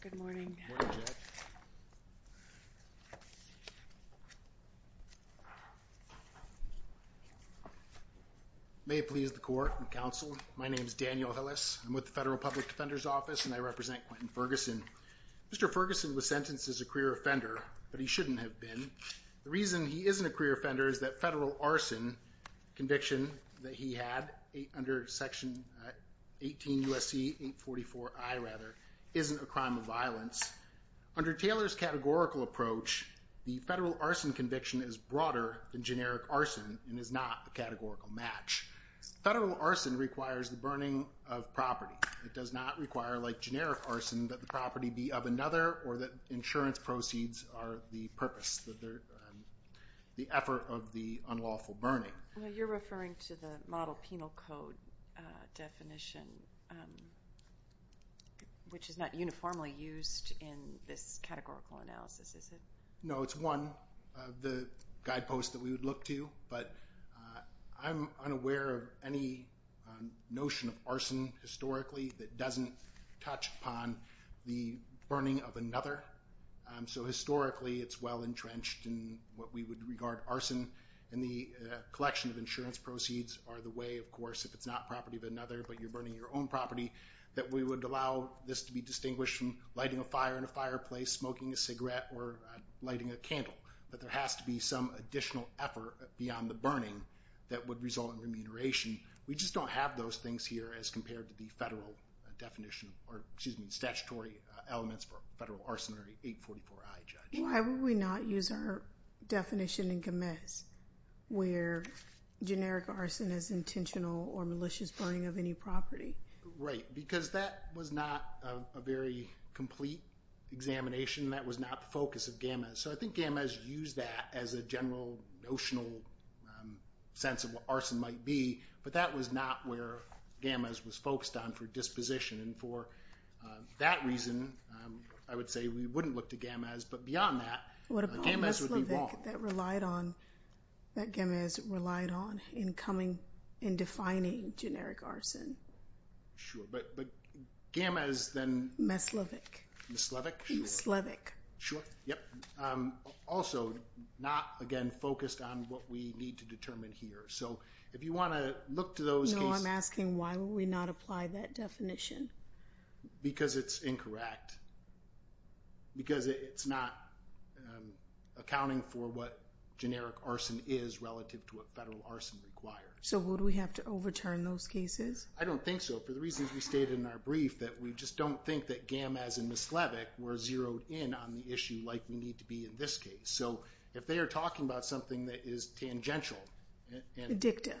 Good morning. May it please the Court and Counsel, my name is Daniel Hillis. I'm with the Federal Public Defender's Office and I represent Quintin Ferguson. Mr. Ferguson was sentenced as a career offender, but he shouldn't have been. The reason he isn't a career offender is that federal arson conviction that he had under section 18 U.S.C. 844I, rather, isn't a crime of violence. Under Taylor's categorical approach, the federal arson conviction is broader than generic arson and is not a categorical match. Federal arson requires the burning of property. It does not require, like generic arson, that the property be of another or that insurance proceeds are the purpose, the effort of the unlawful burning. You're referring to the model penal code definition, which is not uniformly used in this categorical analysis, is it? No, it's one of the guideposts that we would look to, but I'm unaware of any notion of arson historically that doesn't touch upon the burning of another. So historically it's well entrenched in what we would regard arson, and the collection of insurance proceeds are the way, of course, if it's not property of another, but you're burning your own property, that we would allow this to be distinguished from lighting a fire in a fireplace, smoking a cigarette, or lighting a candle. But there has to be some additional effort beyond the burning that would result in remuneration. We just don't have those things here as compared to the federal definition, or excuse me, statutory elements for a federal arsonary 844I, Judge. Why would we not use our definition in Gomez where generic arson is intentional or malicious burning of any property? Right, because that was not a very complete examination, that was not the focus of Gomez. So I think Gomez used that as a general notional sense of what arson might be, but that was not where Gomez was focused on for disposition, and for that reason, I would say we wouldn't look to Gomez, but beyond that, Gomez would be wrong. What about Meslevic that relied on, that Gomez relied on in coming, in defining generic arson? Sure, but Gomez then... Meslevic. Meslevic, sure. Meslevic. Sure, yep. Also, not, again, focused on what we need to determine here. So if you want to look to those cases... No, I'm asking why would we not apply that definition? Because it's incorrect. Because it's not accounting for what generic arson is relative to what federal arson requires. So would we have to overturn those cases? I don't think so. For the reasons we stated in our brief, that we just don't think that Gam as in Meslevic were zeroed in on the issue like we need to be in this case. So if they are talking about something that is tangential... Addictive.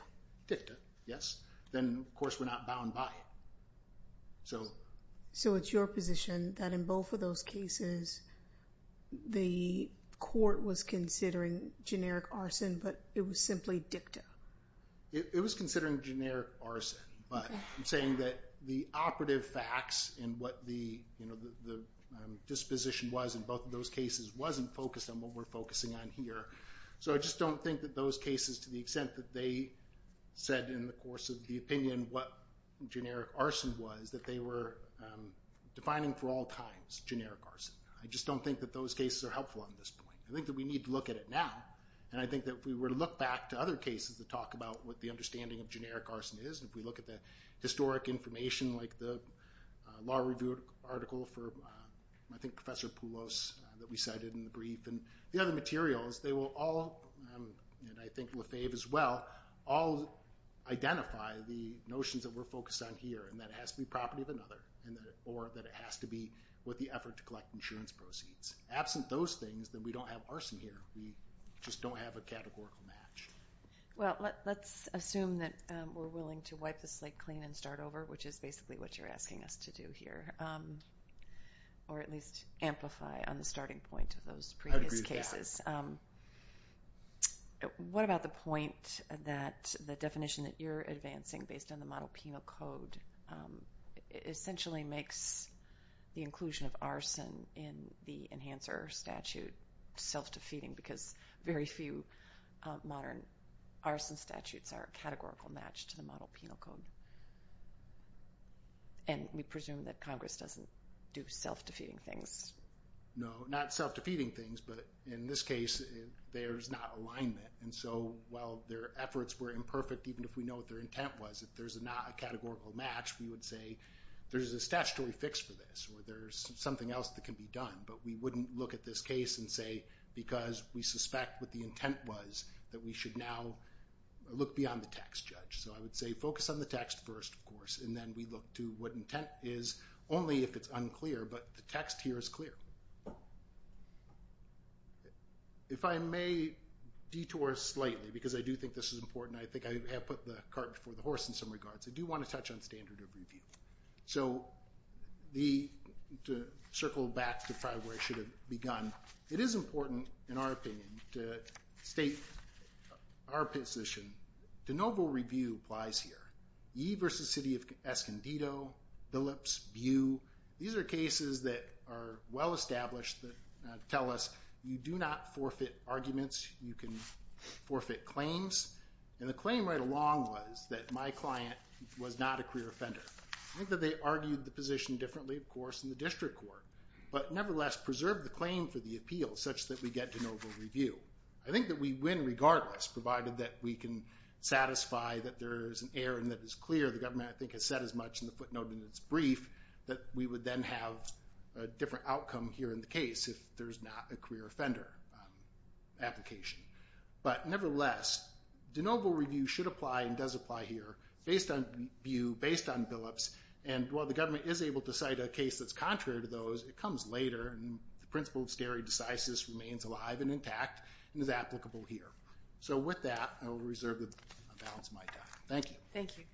Addictive, yes. Then, of course, we're not bound by it. So it's your position that in both of those cases, the court was considering generic arson, but it was simply dicta. It was considering generic arson, but I'm saying that the operative facts and what the disposition was in both of those cases wasn't focused on what we're focusing on here. So I just don't think that those cases, to the extent that they said in the course of the opinion what generic arson was, that they were defining for all times generic arson. I just don't think that those cases are helpful on this point. I think that we need to look at it now, and I think that if we were to look back to other cases that talk about what the understanding of generic arson is, if we look at the historic information like the law review article for, I think, Professor Poulos that we cited in the brief, and the other materials, they will all, and I think Lefebvre as well, all identify the notions that we're focused on here, and that it has to be property of another, or that it has to be with the effort to collect insurance proceeds. Absent those things, then we don't have arson here. We just don't have a categorical match. Well, let's assume that we're willing to wipe the slate clean and start over, which is basically what you're asking us to do here, or at least amplify on the starting point of those previous cases. I agree with that. What about the point that the definition that you're advancing based on the model penal code essentially makes the inclusion of a cancer statute self-defeating, because very few modern arson statutes are a categorical match to the model penal code. And we presume that Congress doesn't do self-defeating things. No, not self-defeating things, but in this case, there's not alignment. And so while their efforts were imperfect, even if we know what their intent was, if there's not a categorical match, we would say there's a statutory fix for this, or there's something else that can be done. But we wouldn't look at this case and say, because we suspect what the intent was, that we should now look beyond the text, Judge. So I would say focus on the text first, of course, and then we look to what intent is, only if it's unclear. But the text here is clear. If I may detour slightly, because I do think this is important. I think I have put the cart before the horse in some regards. I do want to touch on standard of review. So to circle back to probably where I should have begun, it is important, in our opinion, to state our position. De novo review applies here. Ye versus city of Escondido, Billups, Bew, these are cases that are well-established that tell us you do not forfeit arguments. You can forfeit claims. And the claim right along was that my client was not a career offender. I think that they argued the position differently, of course, in the district court, but nevertheless preserved the claim for the appeal such that we get de novo review. I think that we win regardless, provided that we can satisfy that there is an error and that it's clear. The government, I think, has said as much in the footnote in its brief that we would then have a different outcome here in the case if there's not a career offender application. But nevertheless, de novo review should apply and does apply here based on Bew, based on Billups, and while the government is able to cite a case that's contrary to those, it comes later, and the principle of stare decisis remains alive and intact and is applicable here. So with that, I will reserve the balance of my time. Thank you. Thank you.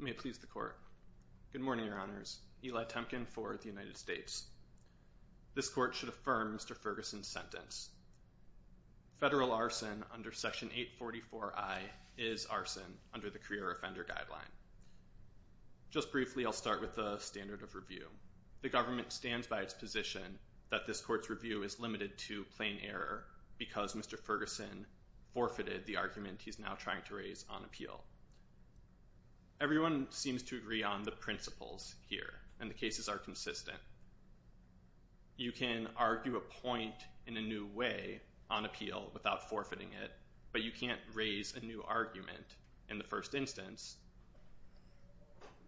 May it please the Court. Good morning, Your Honors. Eli Temkin for the United States. This Court should affirm Mr. Ferguson's sentence. Federal arson under Section 844I is arson under the Career Offender Guideline. Just briefly, I'll start with the standard of review. The government stands by its position that this Court's review is limited to plain error because Mr. Ferguson forfeited the argument he's now trying to raise on appeal. Everyone seems to agree on the principles here, and the cases are consistent. You can argue a point in a new way on appeal without forfeiting it, but you can't raise a new argument in the first instance,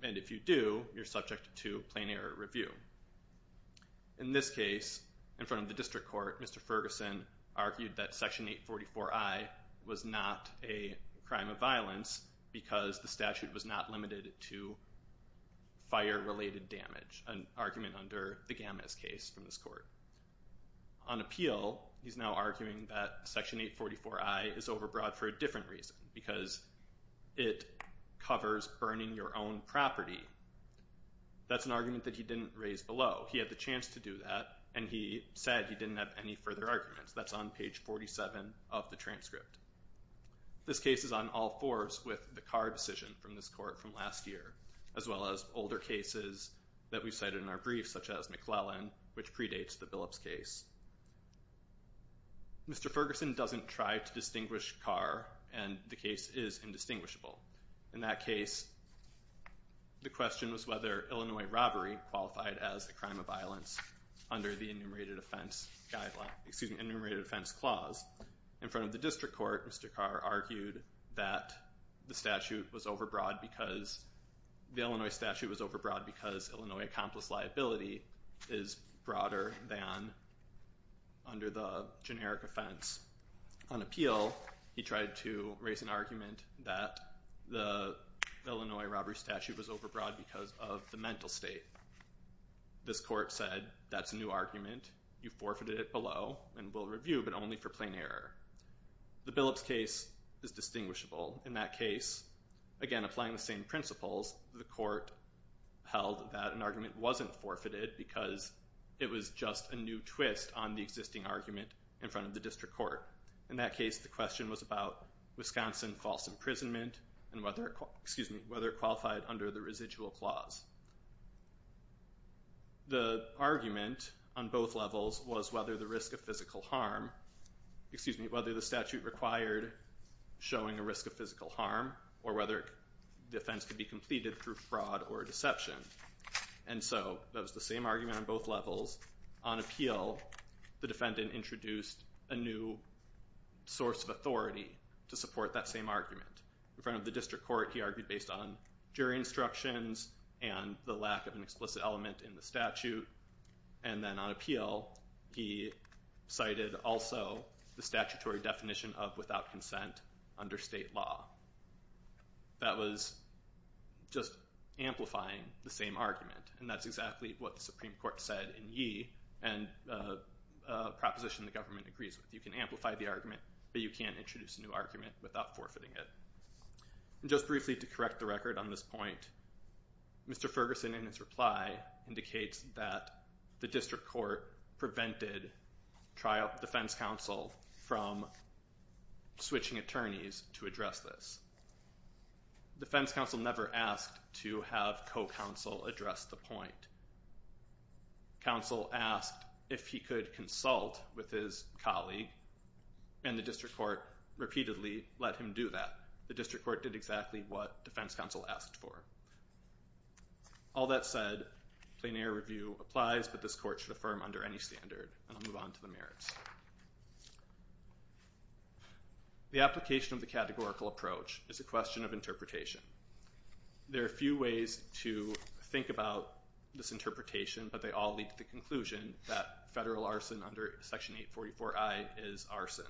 and if you do, you're subject to plain error review. In this case, in front of the District Court, Mr. Ferguson argued that Section 844I was not a crime of violence because the statute was not limited to fire-related damage, an argument under the Gammas case from this Court. On appeal, he's now arguing that Section 844I is overbroad for a different reason because it covers burning your own property. That's an argument that he didn't raise below. He had the chance to do that, and he said he didn't have any further arguments. That's on page 47 of the transcript. This case is on all fours with the Carr decision from this Court from last year, as well as older cases that we've cited in our briefs, such as McClellan, which predates the Billups case. Mr. Ferguson doesn't try to distinguish Carr, and the case is indistinguishable. In that case, the question was whether Illinois robbery qualified as a crime of violence under the Enumerated Offense Clause. In front of the District Court, Mr. Carr argued that the Illinois statute was overbroad because Illinois accomplice liability is broader than under the generic offense. On appeal, he tried to raise an argument that the Illinois robbery statute was overbroad because of the mental state. This Court said that's a new argument. You forfeited it below and will review, but only for plain error. The Billups case is distinguishable. In that case, again applying the same principles, the Court held that an argument wasn't forfeited because it was just a new twist on the existing argument in front of the District Court. In that case, the question was about Wisconsin false imprisonment and whether it qualified under the Residual Clause. The argument on both levels was whether the statute required showing a risk of physical harm or whether the offense could be completed through fraud or deception. That was the same argument on both levels. On appeal, the defendant introduced a new source of authority to support that same argument. In front of the District Court, he argued based on jury instructions and the lack of an explicit element in the statute. Then on appeal, he cited also the statutory definition of without consent under state law. That was just amplifying the same argument, and that's exactly what the Supreme Court said in Yee and a proposition the government agrees with. You can amplify the argument, but you can't introduce a new argument without forfeiting it. Just briefly to correct the record on this point, Mr. Ferguson, in his reply, indicates that the District Court prevented defense counsel from switching attorneys to address this. Defense counsel never asked to have co-counsel address the point. Counsel asked if he could consult with his colleague, and the District Court repeatedly let him do that. The District Court did exactly what defense counsel asked for. All that said, plein air review applies, but this court should affirm under any standard, and I'll move on to the merits. The application of the categorical approach is a question of interpretation. There are a few ways to think about this interpretation, but they all lead to the conclusion that federal arson under Section 844I is arson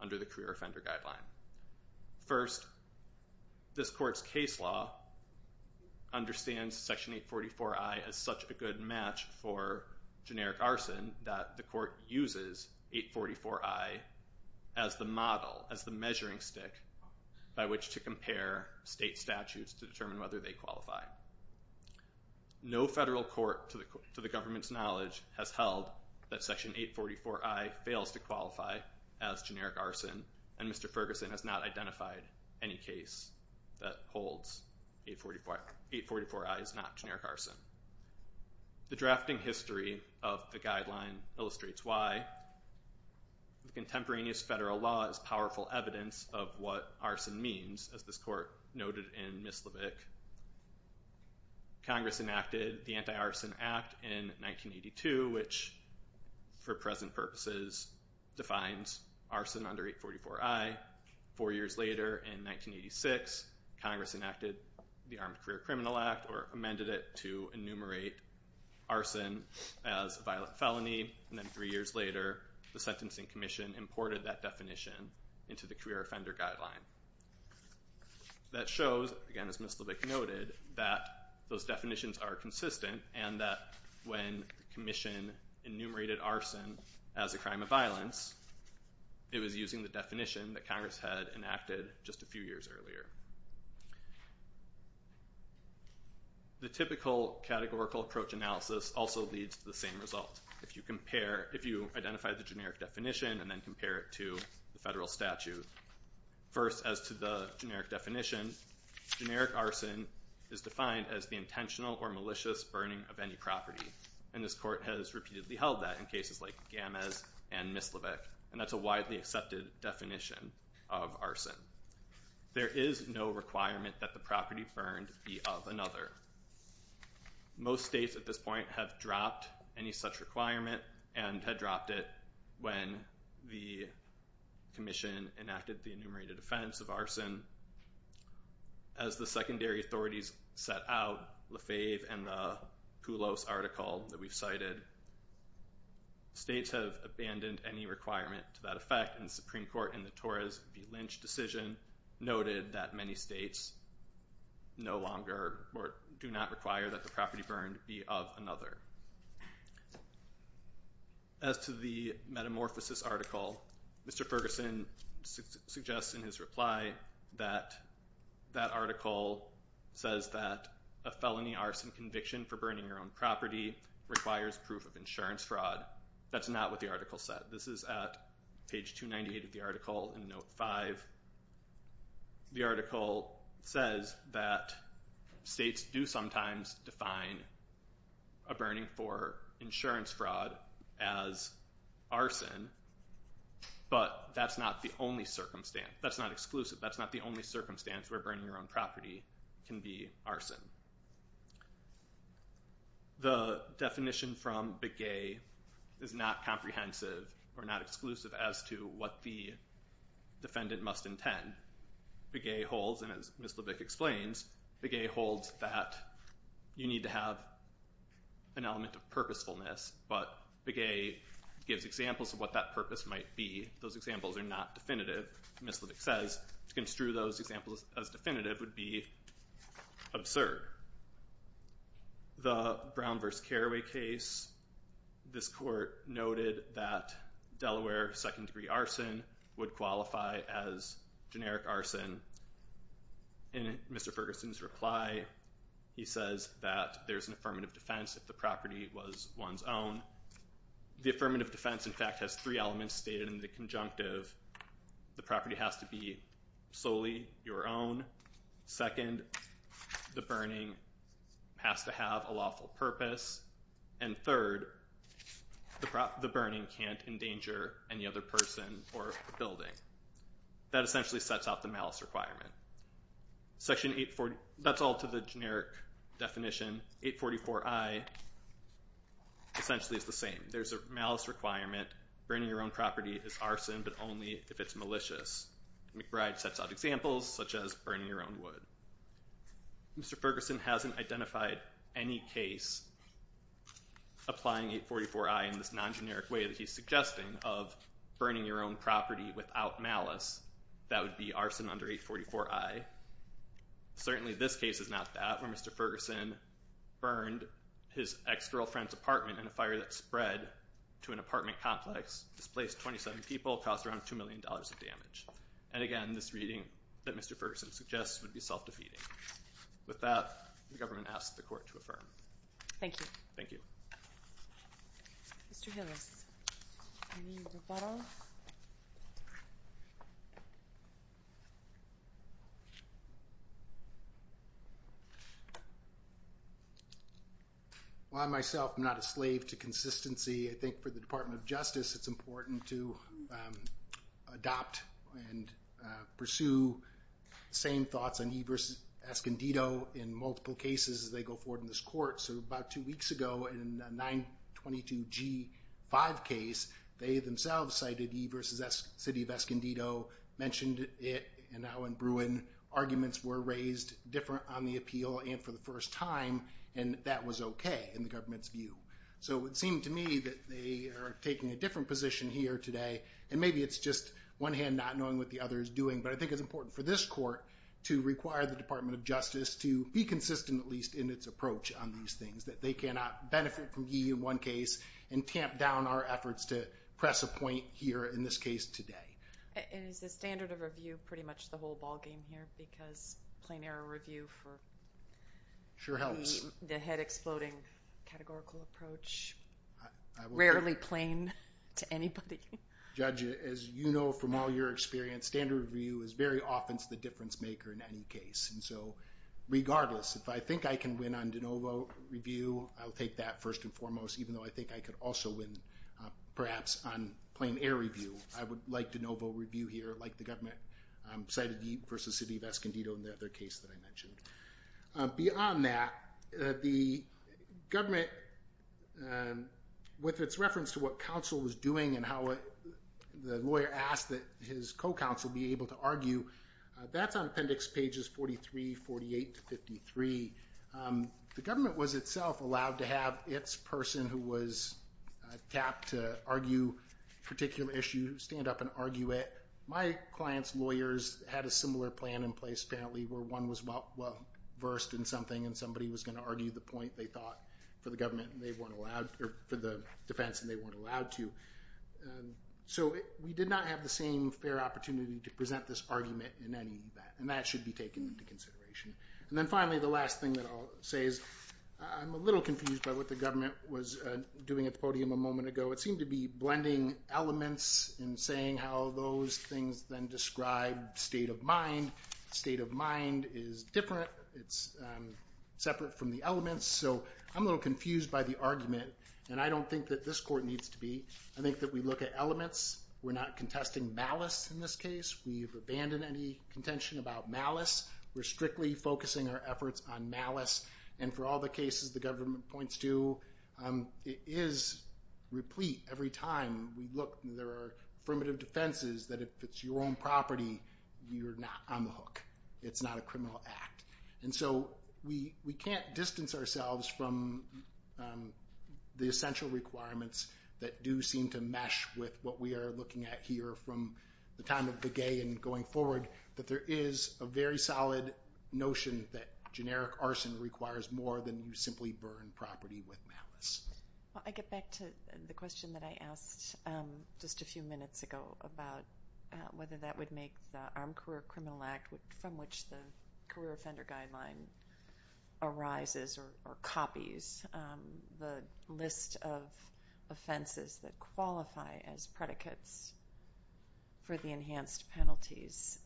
under the Career Offender Guideline. First, this court's case law understands Section 844I as such a good match for generic arson that the court uses 844I as the model, as the measuring stick, by which to compare state statutes to determine whether they qualify. No federal court to the government's knowledge has held that Section 844I fails to qualify as generic arson, and Mr. Ferguson has not identified any case that holds 844I is not generic arson. The drafting history of the guideline illustrates why. The contemporaneous federal law is powerful evidence of what arson means, as this court noted in Mislavik. Congress enacted the Anti-Arson Act in 1982, which for present purposes defines arson under 844I. Four years later, in 1986, Congress enacted the Armed Career Criminal Act or amended it to enumerate arson as a violent felony, and then three years later the Sentencing Commission imported that definition into the Career Offender Guideline. That shows, again, as Mislavik noted, that those definitions are consistent and that when the commission enumerated arson as a crime of violence, it was using the definition that Congress had enacted just a few years earlier. The typical categorical approach analysis also leads to the same result. If you compare, if you identify the generic definition and then compare it to the federal statute. First, as to the generic definition, generic arson is defined as the intentional or malicious burning of any property, and this court has repeatedly held that in cases like Gammes and Mislavik, and that's a widely accepted definition of arson. There is no requirement that the property burned be of another. Most states at this point have dropped any such requirement and had dropped it when the commission enacted the enumerated offense of arson. As the secondary authorities set out, Lafave and the Poulos article that we've cited, states have abandoned any requirement to that effect, and the Supreme Court in the Torres v. Lynch decision noted that many states no longer or do not require that the property burned be of another. As to the metamorphosis article, Mr. Ferguson suggests in his reply that that article says that a felony arson conviction for burning your own property requires proof of insurance fraud. That's not what the article said. This is at page 298 of the article in Note 5. The article says that states do sometimes define a burning for insurance fraud as arson, but that's not the only circumstance. That's not exclusive. That's not the only circumstance where burning your own property can be arson. The definition from Begay is not comprehensive or not exclusive as to what the defendant must intend. Begay holds, and as Ms. Levick explains, Begay holds that you need to have an element of purposefulness, but Begay gives examples of what that purpose might be. Those examples are not definitive. Ms. Levick says to construe those examples as definitive would be absurd. The Brown v. Carraway case, this court noted that Delaware second-degree arson would qualify as generic arson. In Mr. Ferguson's reply, he says that there's an affirmative defense if the property was one's own. The affirmative defense, in fact, has three elements stated in the conjunctive. The property has to be solely your own. Second, the burning has to have a lawful purpose. And third, the burning can't endanger any other person or building. That essentially sets out the malice requirement. That's all to the generic definition. 844i essentially is the same. There's a malice requirement. Burning your own property is arson, but only if it's malicious. McBride sets out examples such as burning your own wood. Mr. Ferguson hasn't identified any case applying 844i in this non-generic way that he's suggesting of burning your own property without malice. That would be arson under 844i. Certainly this case is not that, where Mr. Ferguson burned his ex-girlfriend's apartment in a fire that spread to an apartment complex, displaced 27 people, cost around $2 million of damage. And again, this reading that Mr. Ferguson suggests would be self-defeating. With that, the government asks the Court to affirm. Thank you. Thank you. Mr. Hillis, any rebuttal? Well, I myself am not a slave to consistency. I think for the Department of Justice it's important to adopt and pursue the same thoughts on E versus Escondido in multiple cases as they go forward in this Court. So about two weeks ago in the 922G5 case, they themselves cited E versus City of Escondido, mentioned it, and now in Bruin, arguments were raised different on the appeal and for the first time, and that was okay in the government's view. So it seemed to me that they are taking a different position here today, and maybe it's just one hand not knowing what the other is doing, but I think it's important for this Court to require the Department of Justice to be consistent at least in its approach on these things, that they cannot benefit from E in one case and tamp down our efforts to press a point here in this case today. And is the standard of review pretty much the whole ball game here because plain error review for the head-exploding categorical approach, rarely plain to anybody? Judge, as you know from all your experience, standard review is very often the difference maker in any case. And so regardless, if I think I can win on de novo review, I'll take that first and foremost, even though I think I could also win perhaps on plain error review. I would like de novo review here, like the government cited E versus City of Escondido in the other case that I mentioned. Beyond that, the government, with its reference to what counsel was doing and how the lawyer asked that his co-counsel be able to argue, that's on appendix pages 43, 48 to 53. The government was itself allowed to have its person who was tapped to argue a particular issue stand up and argue it. My client's lawyers had a similar plan in place apparently where one was well-versed in something and somebody was going to argue the point they thought for the government and they weren't allowed, or for the defense and they weren't allowed to. So we did not have the same fair opportunity to present this argument in any event, and that should be taken into consideration. And then finally, the last thing that I'll say is I'm a little confused by what the government was doing at the podium a moment ago. It seemed to be blending elements and saying how those things then describe state of mind. State of mind is different. It's separate from the elements. So I'm a little confused by the argument, and I don't think that this court needs to be. I think that we look at elements. We're not contesting malice in this case. We've abandoned any contention about malice. We're strictly focusing our efforts on malice, and for all the cases the government points to, it is replete every time we look. There are affirmative defenses that if it's your own property, you're not on the hook. It's not a criminal act. And so we can't distance ourselves from the essential requirements that do seem to mesh with what we are looking at here from the time of Begay and going forward, that there is a very solid notion that generic arson requires more than you simply burn property with malice. I get back to the question that I asked just a few minutes ago about whether that would make the Armed Career Criminal Act, from which the Career Offender Guideline arises or copies, the list of offenses that qualify as predicates for the enhanced penalties.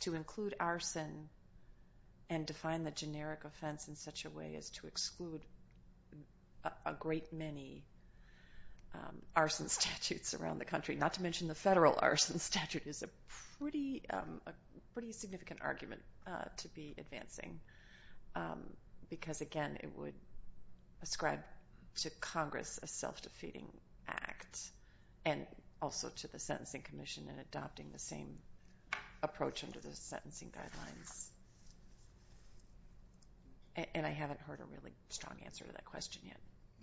To include arson and define the generic offense in such a way as to exclude a great many arson statutes around the country, not to mention the federal arson statute, is a pretty significant argument to be advancing because, again, it would ascribe to Congress a self-defeating act and also to the Sentencing Commission in adopting the same approach under the sentencing guidelines. And I haven't heard a really strong answer to that question yet.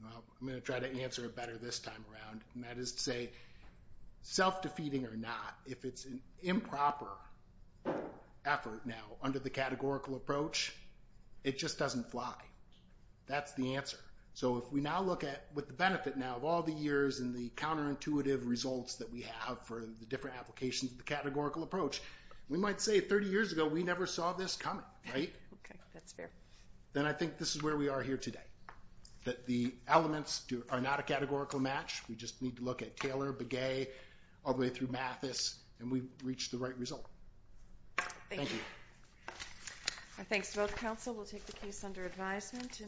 I'm going to try to answer it better this time around, and that is to say self-defeating or not, if it's an improper effort now under the categorical approach, it just doesn't fly. That's the answer. So if we now look at, with the benefit now of all the years and the counterintuitive results that we have for the different applications of the categorical approach, we might say 30 years ago we never saw this coming, right? Okay, that's fair. Then I think this is where we are here today, that the elements are not a categorical match. We just need to look at Taylor, Begay, all the way through Mathis, and we've reached the right result. Thank you. Thanks to both counsel. We'll take the case under advisement.